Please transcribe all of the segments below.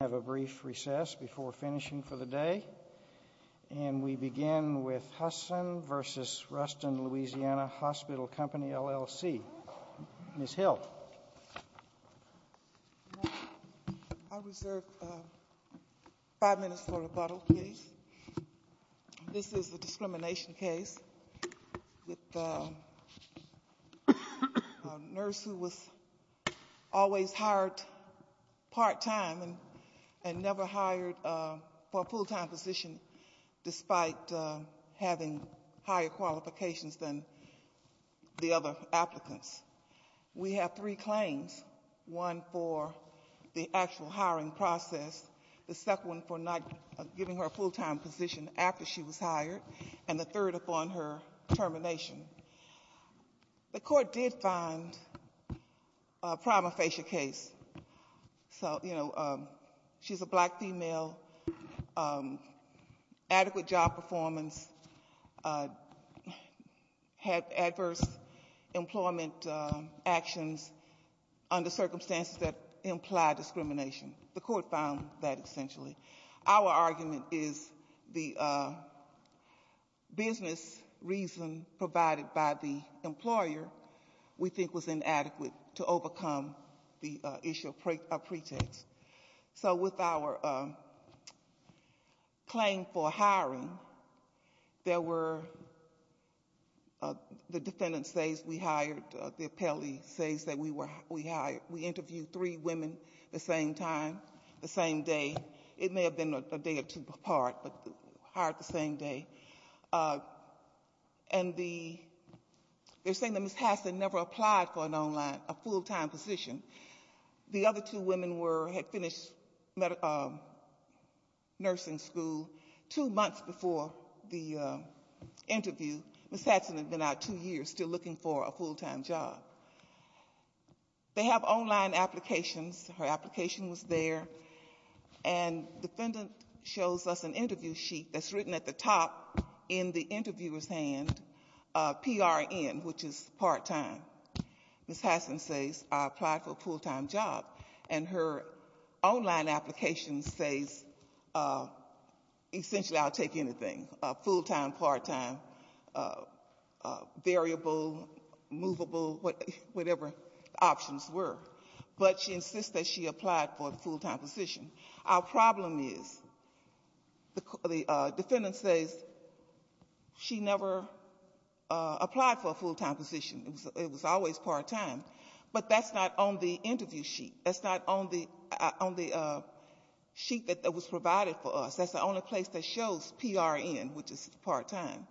We'll have a brief recess before finishing for the day. And we begin with Hassen v. Ruston Louisiana Hospital Co. LLC. Ms. Hill. I reserve five minutes for rebuttal, please. This is a discrimination case with a nurse who was always hired part-time and never hired for a full-time position despite having higher qualifications than the other applicants. We have three claims. One for the actual hiring process, the second one for not giving her a full-time position after she was hired, and the third upon her termination. The court did find a prima facie case. So, you know, she's a black female, adequate job performance, had adverse employment actions under circumstances that implied discrimination. The court found that essentially. Our argument is the business reason provided by the employer we think was inadequate to overcome the issue of pretext. So with our claim for hiring, there were the defendant says we hired, the appellee says that we hired. We interviewed three women the same time, the same day. It may have been a day or two apart, but hired the same day. And they're saying that Ms. Hassen never applied for an online, a full-time position. The other two women had finished nursing school two months before the interview. Ms. Hassen had been out two years still looking for a full-time job. They have online applications. Her application was there. And the defendant shows us an interview sheet that's written at the top in the interviewer's hand, PRN, which is part-time. Ms. Hassen says I applied for a full-time job. And her online application says essentially I'll take anything, full-time, part-time, variable, movable, whatever the options were, but she insists that she applied for a full-time position. Our problem is the defendant says she never applied for a full-time position. It was always part-time. But that's not on the interview sheet. That's not on the sheet that was provided for us. That's the only place that shows PRN, which is part-time.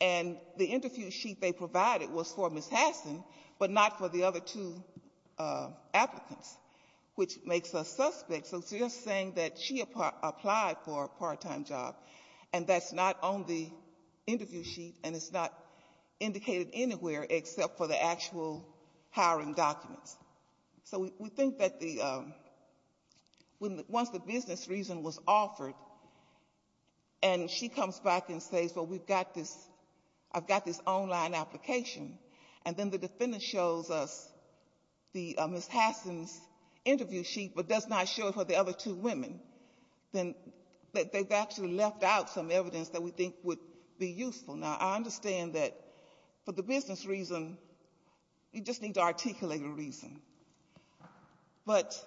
And the interview sheet they provided was for Ms. Hassen, but not for the other two applicants, which makes us suspect. So they're saying that she applied for a part-time job, and that's not on the interview sheet, and it's not indicated anywhere except for the actual hiring documents. So we think that once the business reason was offered and she comes back and says, well, we've got this, I've got this online application, and then the defendant shows us Ms. Hassen's interview sheet but does not show it for the other two women, then they've actually left out some evidence that we think would be useful. Now, I understand that for the business reason, you just need to articulate a reason. But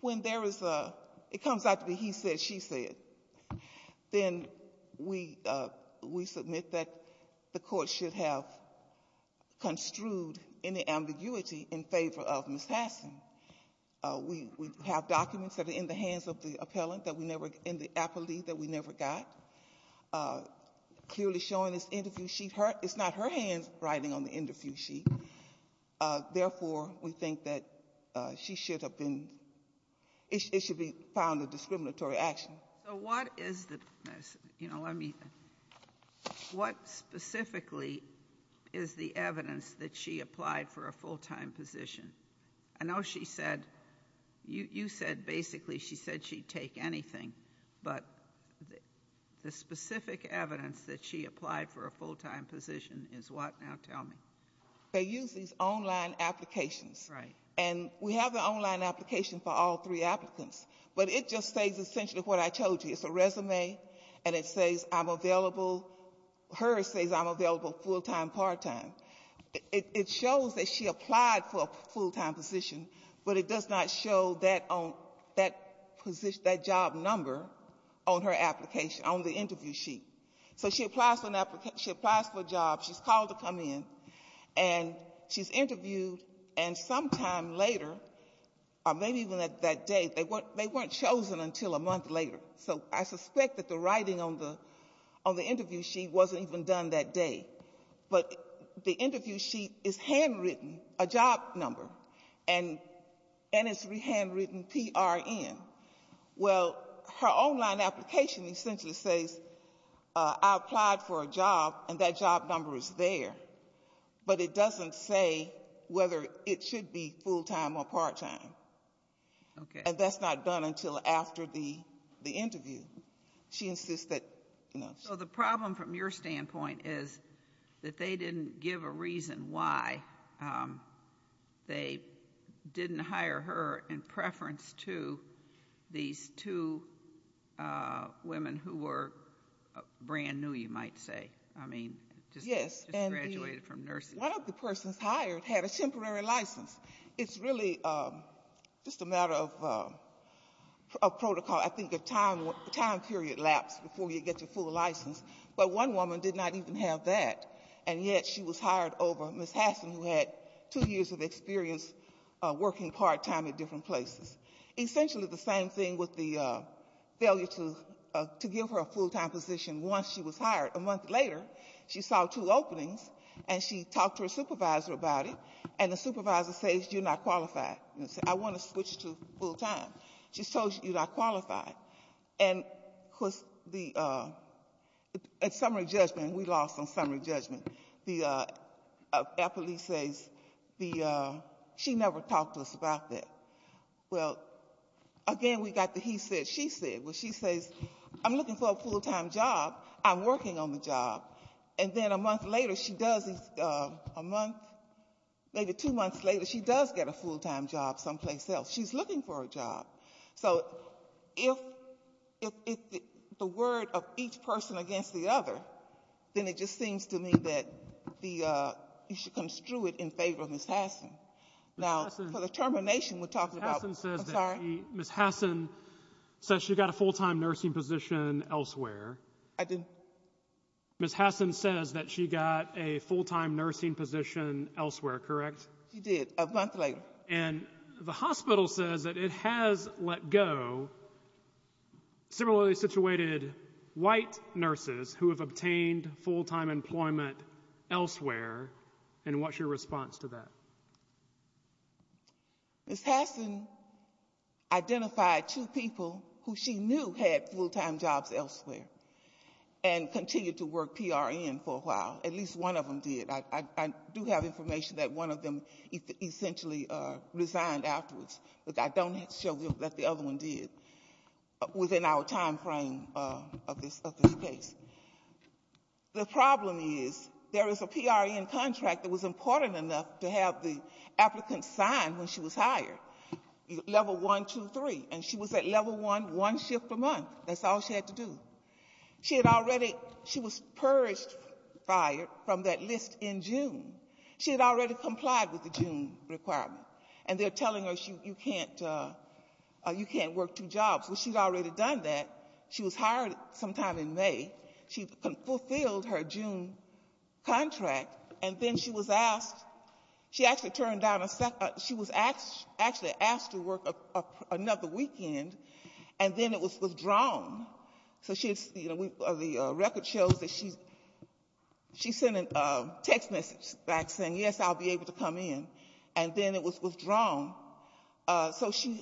when there is a, it comes out to be he said, she said, then we submit that the court should have construed any ambiguity in favor of Ms. Hassen. We have documents that are in the hands of the appellant that we never, in the appellee that we never got, clearly showing this interview sheet. It's not her hands writing on the interview sheet. Therefore, we think that she should have been, it should be found a discriminatory action. So what is the, you know, let me, what specifically is the evidence that she applied for a full-time position? I know she said, you said basically she said she'd take anything. But the specific evidence that she applied for a full-time position is what? Now tell me. They use these online applications. Right. And we have the online application for all three applicants. But it just says essentially what I told you. It's a resume, and it says I'm available, hers says I'm available full-time, part-time. It shows that she applied for a full-time position, but it does not show that job number on her application, on the interview sheet. So she applies for a job. She's called to come in, and she's interviewed. And sometime later, or maybe even that day, they weren't chosen until a month later. So I suspect that the writing on the interview sheet wasn't even done that day. But the interview sheet is handwritten, a job number, and it's handwritten P-R-N. Well, her online application essentially says I applied for a job, and that job number is there. But it doesn't say whether it should be full-time or part-time. Okay. And that's not done until after the interview. She insists that, you know. So the problem from your standpoint is that they didn't give a reason why they didn't hire her in preference to these two women who were brand new, you might say. I mean, just graduated from nursing. One of the persons hired had a temporary license. It's really just a matter of protocol. I think a time period lapsed before you get your full license. But one woman did not even have that. And yet she was hired over Ms. Hasson, who had two years of experience working part-time at different places. Essentially the same thing with the failure to give her a full-time position once she was hired. A month later, she saw two openings, and she talked to her supervisor about it. And the supervisor says, you're not qualified. I want to switch to full-time. She's told you, you're not qualified. And at summary judgment, we lost on summary judgment, our police says she never talked to us about that. Well, again, we got the he said, she said. Well, she says, I'm looking for a full-time job. I'm working on the job. And then a month later, she does, a month, maybe two months later, she does get a full-time job someplace else. She's looking for a job. So if the word of each person against the other, then it just seems to me that you should construe it in favor of Ms. Hasson. Now, for the termination, we'll talk about. Ms. Hasson says she got a full-time nursing position elsewhere. I didn't. Ms. Hasson says that she got a full-time nursing position elsewhere, correct? She did, a month later. And the hospital says that it has let go similarly situated white nurses who have obtained full-time employment elsewhere. And what's your response to that? Ms. Hasson identified two people who she knew had full-time jobs elsewhere and continued to work PRN for a while. At least one of them did. I do have information that one of them essentially resigned afterwards. But I don't know that the other one did within our time frame of this case. The problem is there is a PRN contract that was important enough to have the applicant sign when she was hired, level one, two, three. And she was at level one, one shift a month. That's all she had to do. She had already, she was purged from that list in June. She had already complied with the June requirement. And they're telling her you can't work two jobs. Well, she'd already done that. She was hired sometime in May. She fulfilled her June contract. And then she was asked, she actually turned down, she was actually asked to work another weekend. And then it was withdrawn. So she, the record shows that she sent a text message back saying, yes, I'll be able to come in. And then it was withdrawn. So she,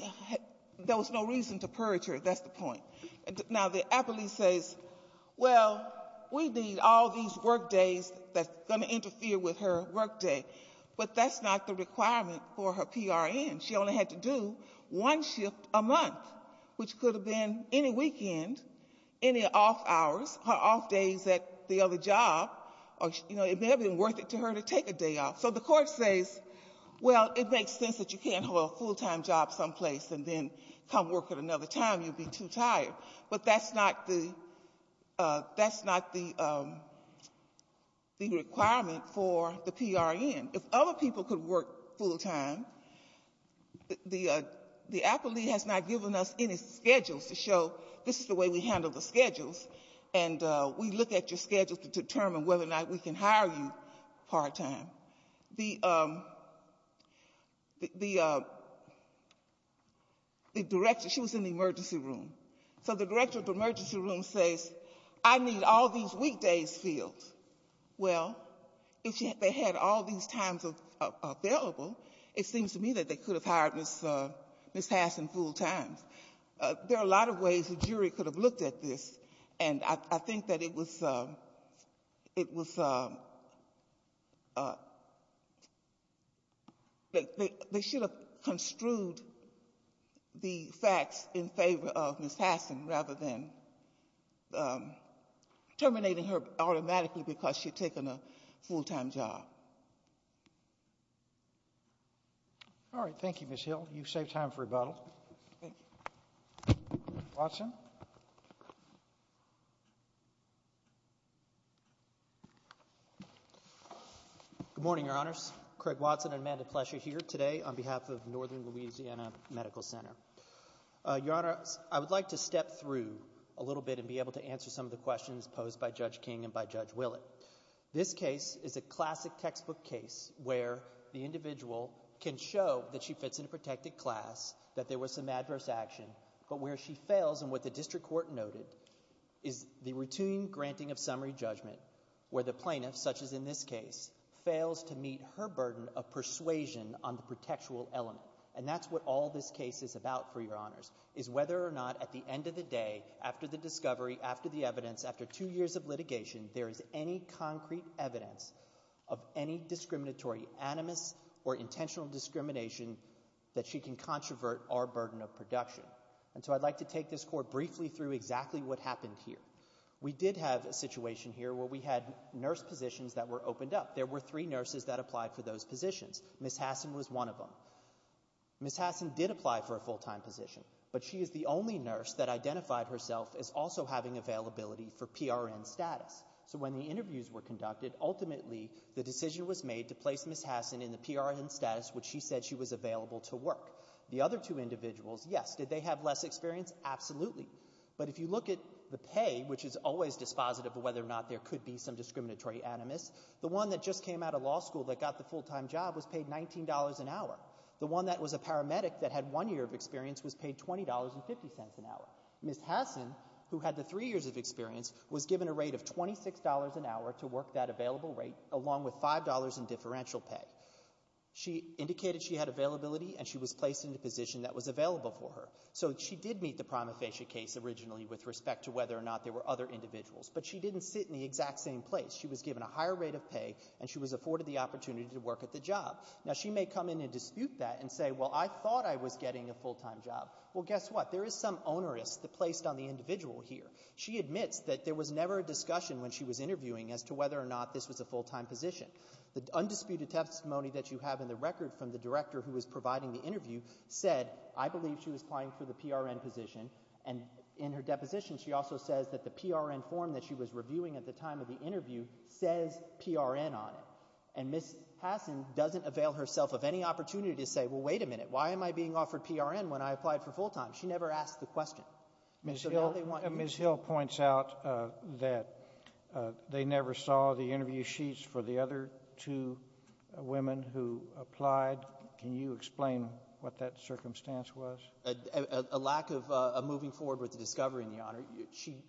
there was no reason to purge her, that's the point. Now, the appellee says, well, we need all these work days that's going to interfere with her work day. But that's not the requirement for her PRN. She only had to do one shift a month, which could have been any weekend, any off hours, her off days at the other job. Or, you know, it may have been worth it to her to take a day off. So the court says, well, it makes sense that you can't hold a full-time job someplace and then come work at another time. You'd be too tired. But that's not the requirement for the PRN. If other people could work full-time, the appellee has not given us any schedules to show this is the way we handle the schedules. And we look at your schedule to determine whether or not we can hire you part-time. The director, she was in the emergency room. So the director of the emergency room says, I need all these weekdays filled. Well, if they had all these times available, it seems to me that they could have hired Ms. Hassen full-time. There are a lot of ways the jury could have looked at this. And I think that it was they should have construed the facts in favor of Ms. Hassen rather than terminating her automatically because she had taken a full-time job. All right. Thank you, Ms. Hill. You've saved time for rebuttal. Thank you. Good morning, Your Honors. Craig Watson and Amanda Plesher here today on behalf of Northern Louisiana Medical Center. Your Honor, I would like to step through a little bit and be able to answer some of the questions posed by Judge King and by Judge Willett. This case is a classic textbook case where the individual can show that she fits in a protected class, that there was some adverse action. But where she fails and what the district court noted is the routine granting of summary judgment where the plaintiff, such as in this case, fails to meet her burden of persuasion on the protectual element. And that's what all this case is about, for Your Honors, is whether or not at the end of the day, after the discovery, after the evidence, after two years of litigation, there is any concrete evidence of any discriminatory, animus, or intentional discrimination that she can controvert our burden of production. And so I'd like to take this court briefly through exactly what happened here. We did have a situation here where we had nurse positions that were opened up. There were three nurses that applied for those positions. Ms. Hassan was one of them. Ms. Hassan did apply for a full-time position, but she is the only nurse that identified herself as also having availability for PRN status. So when the interviews were conducted, ultimately, the decision was made to place Ms. Hassan in the PRN status which she said she was available to work. The other two individuals, yes, did they have less experience? Absolutely. But if you look at the pay, which is always dispositive of whether or not there could be some discriminatory animus, the one that just came out of law school that got the full-time job was paid $19 an hour. The one that was a paramedic that had one year of experience was paid $20.50 an hour. Ms. Hassan, who had the three years of experience, was given a rate of $26 an hour to work that available rate, along with $5 in differential pay. She indicated she had availability, and she was placed in the position that was available for her. So she did meet the prima facie case originally with respect to whether or not there were other individuals, but she didn't sit in the exact same place. She was given a higher rate of pay, and she was afforded the opportunity to work at the job. Now, she may come in and dispute that and say, well, I thought I was getting a full-time job. Well, guess what? There is some onerous that placed on the individual here. She admits that there was never a discussion when she was interviewing as to whether or not this was a full-time position. The undisputed testimony that you have in the record from the director who was providing the interview said, I believe she was applying for the PRN position. And in her deposition, she also says that the PRN form that she was reviewing at the time of the interview says PRN on it. And Ms. Hassan doesn't avail herself of any opportunity to say, well, wait a minute. Why am I being offered PRN when I applied for full-time? She never asked the question. Ms. Hill points out that they never saw the interview sheets for the other two women who applied. Can you explain what that circumstance was? A lack of moving forward with the discovery, Your Honor.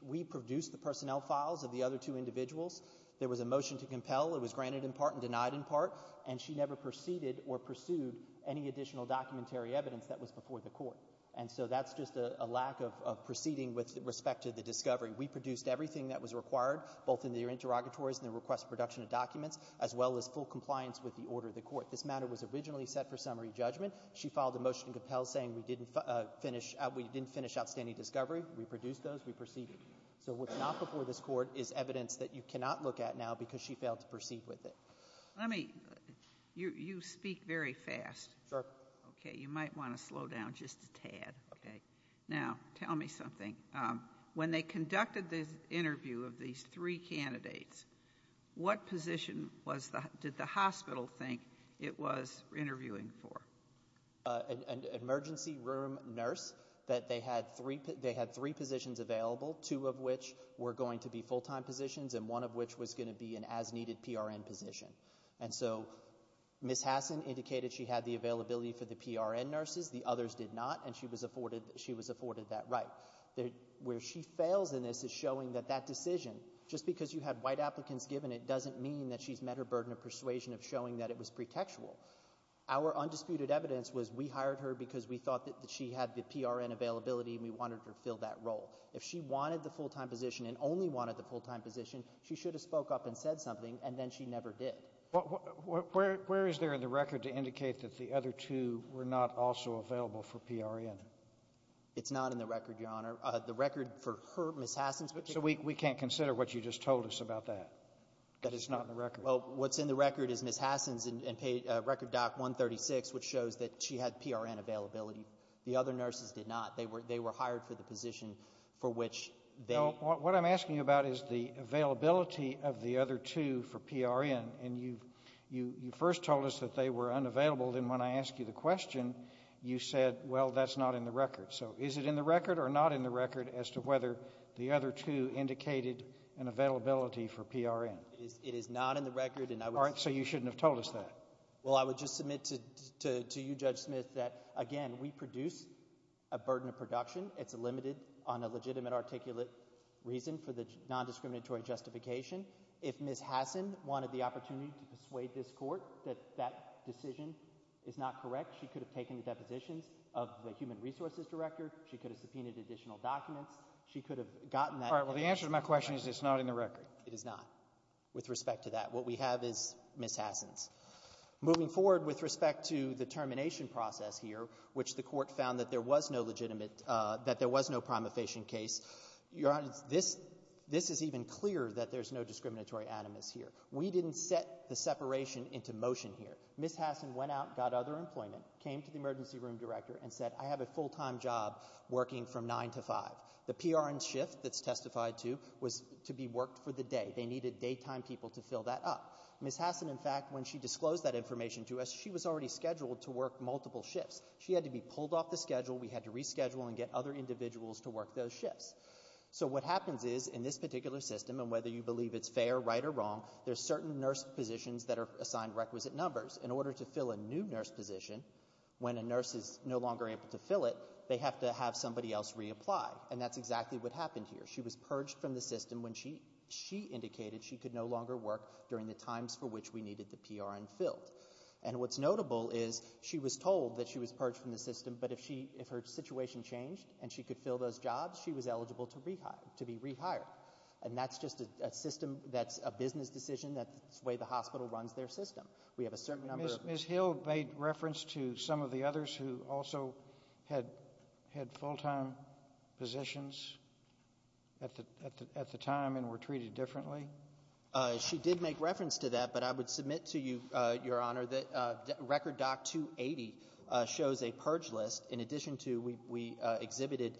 We produced the personnel files of the other two individuals. There was a motion to compel. It was granted in part and denied in part. And she never preceded or pursued any additional documentary evidence that was before the court. And so that's just a lack of proceeding with respect to the discovery. We produced everything that was required, both in the interrogatories and the request for production of documents, as well as full compliance with the order of the court. This matter was originally set for summary judgment. She filed a motion to compel saying we didn't finish outstanding discovery. We produced those. We proceeded. So what's not before this court is evidence that you cannot look at now because she failed to proceed with it. Let me — you speak very fast. Sure. Okay, you might want to slow down just a tad. Now, tell me something. When they conducted the interview of these three candidates, what position did the hospital think it was interviewing for? An emergency room nurse, that they had three positions available, two of which were going to be full-time positions and one of which was going to be an as-needed PRN position. And so Ms. Hassan indicated she had the availability for the PRN nurses. The others did not, and she was afforded that right. Where she fails in this is showing that that decision, just because you had white applicants given it, doesn't mean that she's met her burden of persuasion of showing that it was pretextual. Our undisputed evidence was we hired her because we thought that she had the PRN availability and we wanted her to fill that role. If she wanted the full-time position and only wanted the full-time position, she should have spoke up and said something, and then she never did. Where is there in the record to indicate that the other two were not also available for PRN? It's not in the record, Your Honor. The record for her, Ms. Hassan's particular — So we can't consider what you just told us about that, that it's not in the record? Well, what's in the record is Ms. Hassan's record doc 136, which shows that she had PRN availability. The other nurses did not. They were hired for the position for which they — No, what I'm asking you about is the availability of the other two for PRN, and you first told us that they were unavailable. Then when I asked you the question, you said, well, that's not in the record. So is it in the record or not in the record as to whether the other two indicated an availability for PRN? It is not in the record, and I would — All right, so you shouldn't have told us that. Well, I would just submit to you, Judge Smith, that, again, we produce a burden of production. It's limited on a legitimate articulate reason for the nondiscriminatory justification. If Ms. Hassan wanted the opportunity to persuade this court that that decision is not correct, she could have taken the depositions of the human resources director. She could have subpoenaed additional documents. She could have gotten that — All right, well, the answer to my question is it's not in the record. It is not with respect to that. What we have is Ms. Hassan's. Moving forward with respect to the termination process here, which the court found that there was no legitimate — that there was no prima facie case, Your Honor, this — this is even clearer that there's no discriminatory animus here. We didn't set the separation into motion here. Ms. Hassan went out and got other employment, came to the emergency room director, and said, I have a full-time job working from 9 to 5. The PRN shift that's testified to was to be worked for the day. They needed daytime people to fill that up. Ms. Hassan, in fact, when she disclosed that information to us, she was already scheduled to work multiple shifts. She had to be pulled off the schedule. We had to reschedule and get other individuals to work those shifts. So what happens is in this particular system, and whether you believe it's fair, right, or wrong, there's certain nurse positions that are assigned requisite numbers. In order to fill a new nurse position, when a nurse is no longer able to fill it, they have to have somebody else reapply, and that's exactly what happened here. She was purged from the system when she indicated she could no longer work during the times for which we needed the PRN filled. And what's notable is she was told that she was purged from the system, but if her situation changed and she could fill those jobs, she was eligible to be rehired. And that's just a system that's a business decision. That's the way the hospital runs their system. Ms. Hill made reference to some of the others who also had full-time positions at the time and were treated differently? She did make reference to that, but I would submit to you, Your Honor, that Record Doc 280 shows a purge list in addition to we exhibited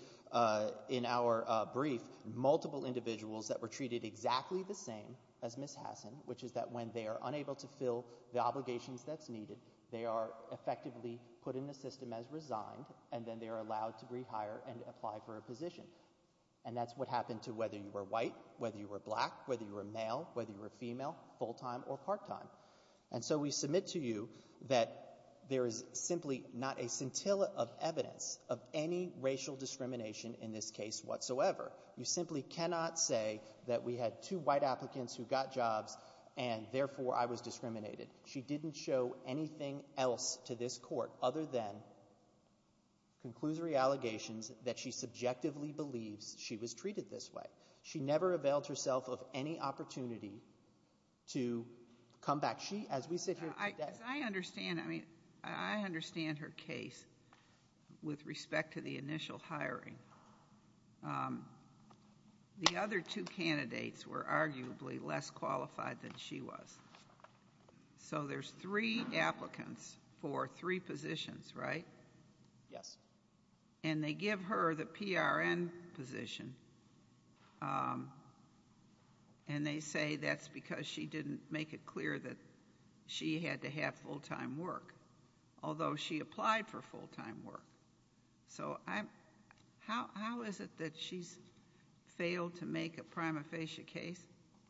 in our brief multiple individuals that were treated exactly the same as Ms. Hassan, which is that when they are unable to fill the obligations that's needed, they are effectively put in the system as resigned, and then they are allowed to rehire and apply for a position. And that's what happened to whether you were white, whether you were black, whether you were male, whether you were female, full-time or part-time. And so we submit to you that there is simply not a scintilla of evidence of any racial discrimination in this case whatsoever. You simply cannot say that we had two white applicants who got jobs and therefore I was discriminated. She didn't show anything else to this court other than conclusory allegations that she subjectively believes she was treated this way. She never availed herself of any opportunity to come back. She, as we sit here today— As I understand, I mean, I understand her case with respect to the initial hiring. The other two candidates were arguably less qualified than she was. So there's three applicants for three positions, right? Yes. And they give her the PRN position, and they say that's because she didn't make it clear that she had to have full-time work, although she applied for full-time work. So how is it that she's failed to make a prima facie case?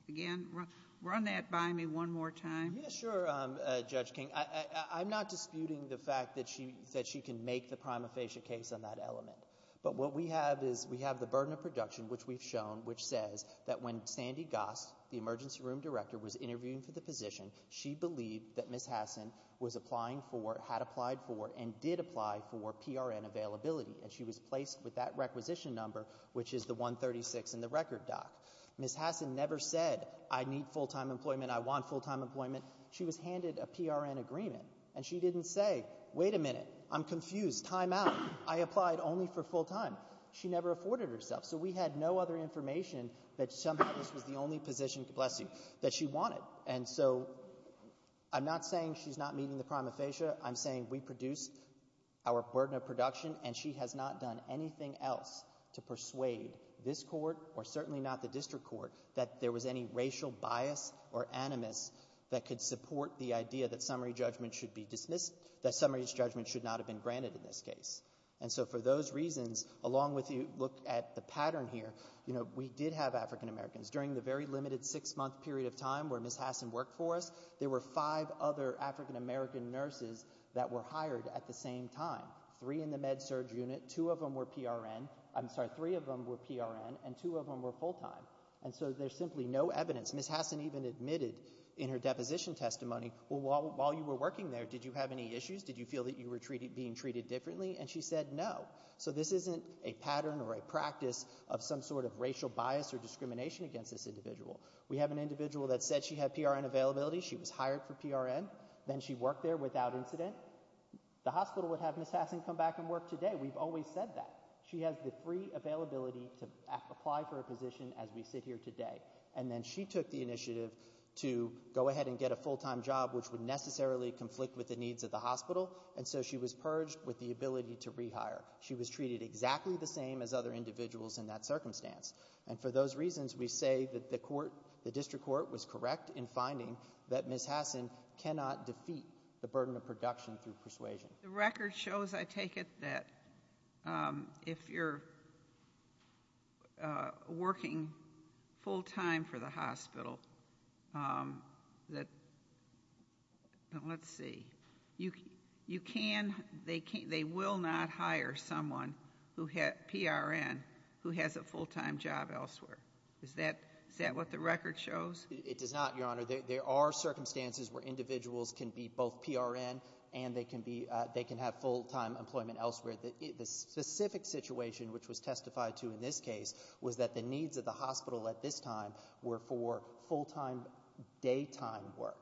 Again, run that by me one more time. Yes, sure, Judge King. I'm not disputing the fact that she can make the prima facie case on that element. But what we have is we have the burden of production, which we've shown, which says that when Sandy Goss, the emergency room director, was interviewing for the position, she believed that Ms. Hassan was applying for, had applied for, and did apply for PRN availability, and she was placed with that requisition number, which is the 136 in the record doc. Ms. Hassan never said, I need full-time employment, I want full-time employment. She was handed a PRN agreement, and she didn't say, wait a minute, I'm confused, time out. I applied only for full-time. She never afforded herself. So we had no other information that somehow this was the only position, bless you, that she wanted. And so I'm not saying she's not meeting the prima facie. I'm saying we produced our burden of production, and she has not done anything else to persuade this court or certainly not the district court that there was any racial bias or animus that could support the idea that summary judgment should be dismissed, that summary judgment should not have been granted in this case. And so for those reasons, along with the look at the pattern here, you know, we did have African-Americans. During the very limited six-month period of time where Ms. Hassan worked for us, there were five other African-American nurses that were hired at the same time, three in the med-surg unit, two of them were PRN, I'm sorry, three of them were PRN, and two of them were full-time. And so there's simply no evidence. Ms. Hassan even admitted in her deposition testimony, well, while you were working there, did you have any issues? Did you feel that you were being treated differently? And she said no. So this isn't a pattern or a practice of some sort of racial bias or discrimination against this individual. We have an individual that said she had PRN availability. She was hired for PRN. Then she worked there without incident. The hospital would have Ms. Hassan come back and work today. We've always said that. She has the free availability to apply for a position as we sit here today. And then she took the initiative to go ahead and get a full-time job, which would necessarily conflict with the needs of the hospital, and so she was purged with the ability to rehire. She was treated exactly the same as other individuals in that circumstance. And for those reasons, we say that the court, the district court, was correct in finding that Ms. Hassan cannot defeat the burden of production through persuasion. The record shows, I take it, that if you're working full-time for the hospital, let's see, you can, they will not hire someone who had PRN who has a full-time job elsewhere. Is that what the record shows? It does not, Your Honor. There are circumstances where individuals can be both PRN and they can have full-time employment elsewhere. The specific situation, which was testified to in this case, was that the needs of the hospital at this time were for full-time daytime work.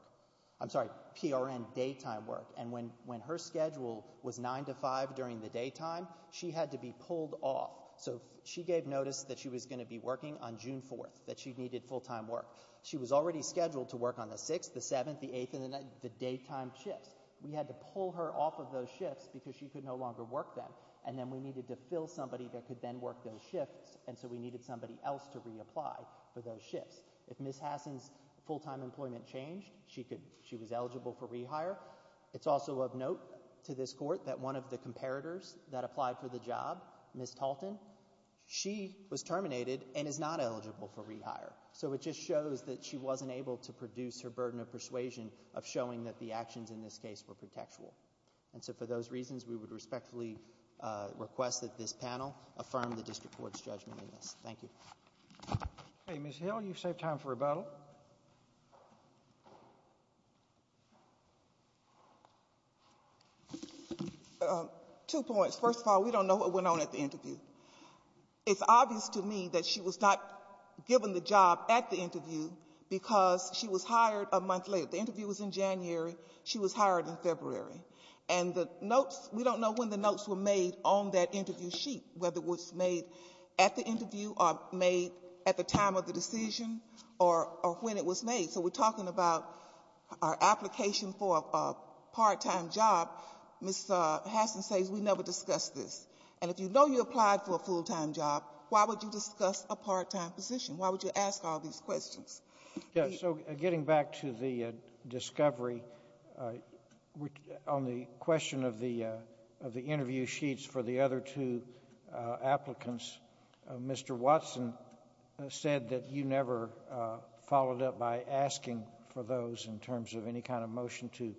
I'm sorry, PRN daytime work. And when her schedule was 9 to 5 during the daytime, she had to be pulled off. So she gave notice that she was going to be working on June 4th, that she needed full-time work. She was already scheduled to work on the 6th, the 7th, the 8th, and the 9th, the daytime shifts. We had to pull her off of those shifts because she could no longer work them. And then we needed to fill somebody that could then work those shifts, and so we needed somebody else to reapply for those shifts. If Ms. Hassan's full-time employment changed, she was eligible for rehire. It's also of note to this court that one of the comparators that applied for the job, Ms. Talton, she was terminated and is not eligible for rehire. So it just shows that she wasn't able to produce her burden of persuasion of showing that the actions in this case were protectual. And so for those reasons, we would respectfully request that this panel affirm the district court's judgment in this. Thank you. Okay. Ms. Hill, you've saved time for rebuttal. Two points. First of all, we don't know what went on at the interview. It's obvious to me that she was not given the job at the interview because she was hired a month later. The interview was in January. She was hired in February. And the notes, we don't know when the notes were made on that interview sheet, whether it was made at the interview or made at the time of the decision or when it was made. So we're talking about our application for a part-time job. Ms. Hassan says we never discussed this. And if you know you applied for a full-time job, why would you discuss a part-time position? Why would you ask all these questions? Yes. So getting back to the discovery, on the question of the interview sheets for the other two applicants, Mr. Watson said that you never followed up by asking for those in terms of any kind of motion to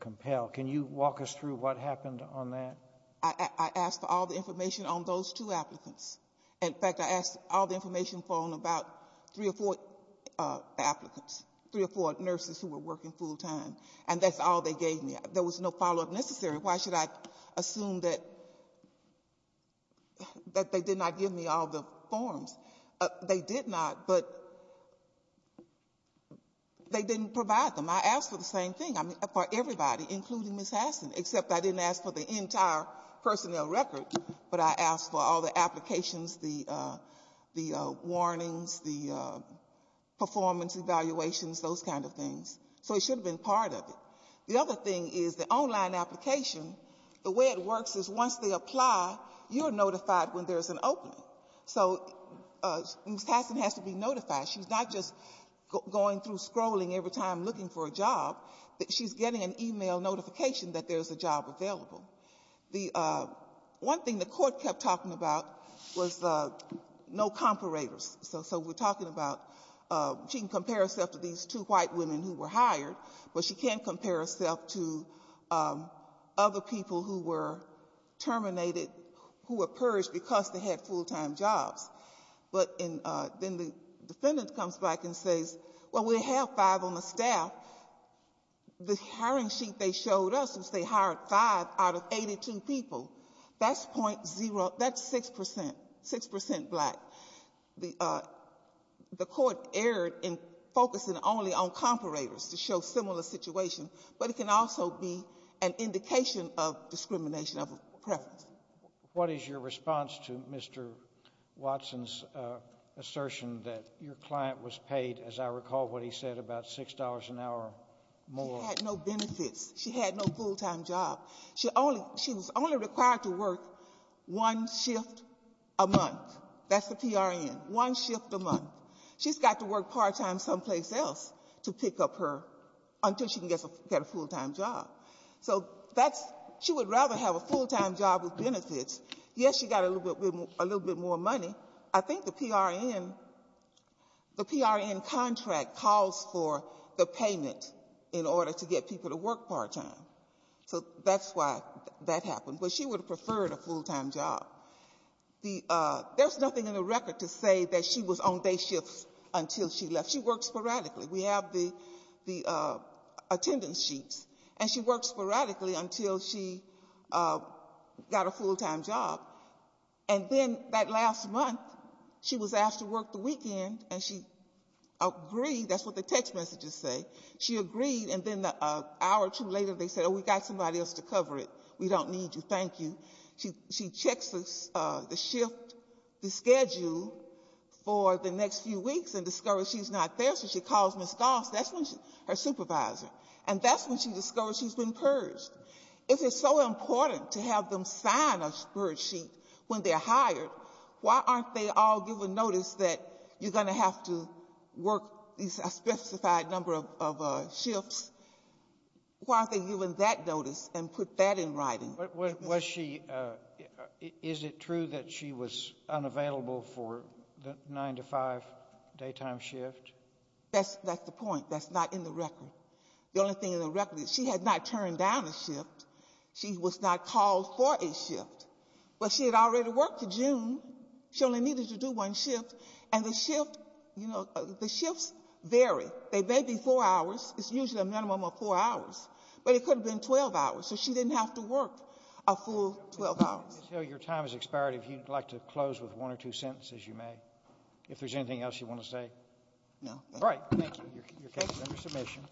compel. Can you walk us through what happened on that? I asked for all the information on those two applicants. In fact, I asked all the information on about three or four applicants, three or four nurses who were working full-time, and that's all they gave me. There was no follow-up necessary. Why should I assume that they did not give me all the forms? They did not, but they didn't provide them. I asked for the same thing for everybody, including Ms. Hassan, except I didn't ask for the entire personnel record, but I asked for all the applications, the warnings, the performance evaluations, those kind of things. So it should have been part of it. The other thing is the online application, the way it works is once they apply, you're notified when there's an opening. So Ms. Hassan has to be notified. She's not just going through scrolling every time looking for a job. She's getting an e-mail notification that there's a job available. One thing the court kept talking about was no comparators. So we're talking about she can compare herself to these two white women who were hired, but she can't compare herself to other people who were terminated, who were purged because they had full-time jobs. But then the defendant comes back and says, well, we have five on the staff. The hiring sheet they showed us was they hired five out of 82 people. That's point zero. That's 6 percent, 6 percent black. The court erred in focusing only on comparators to show similar situations, but it can also be an indication of discrimination of preference. What is your response to Mr. Watson's assertion that your client was paid, as I recall what he said, about $6 an hour more? She had no benefits. She had no full-time job. She was only required to work one shift a month. That's the PRN, one shift a month. She's got to work part-time someplace else to pick up her until she can get a full-time job. So she would rather have a full-time job with benefits. Yes, she got a little bit more money. I think the PRN contract calls for the payment in order to get people to work part-time. So that's why that happened. But she would have preferred a full-time job. There's nothing in the record to say that she was on day shifts until she left. She worked sporadically. We have the attendance sheets. And she worked sporadically until she got a full-time job. And then that last month she was asked to work the weekend, and she agreed. That's what the text messages say. She agreed, and then an hour or two later they said, oh, we've got somebody else to cover it. We don't need you. Thank you. She checks the shift, the schedule for the next few weeks and discovers she's not there, especially she calls Ms. Goss, her supervisor, and that's when she discovers she's been purged. If it's so important to have them sign a spreadsheet when they're hired, why aren't they all given notice that you're going to have to work a specified number of shifts? Why aren't they given that notice and put that in writing? Was she ‑‑ is it true that she was unavailable for the 9 to 5 daytime shift? That's the point. That's not in the record. The only thing in the record is she had not turned down a shift. She was not called for a shift. But she had already worked to June. She only needed to do one shift. And the shift, you know, the shifts vary. They may be four hours. It's usually a minimum of four hours. But it could have been 12 hours. So she didn't have to work a full 12 hours. Your time has expired. If you'd like to close with one or two sentences, you may. If there's anything else you want to say. No. All right. Thank you. Your case is under submission.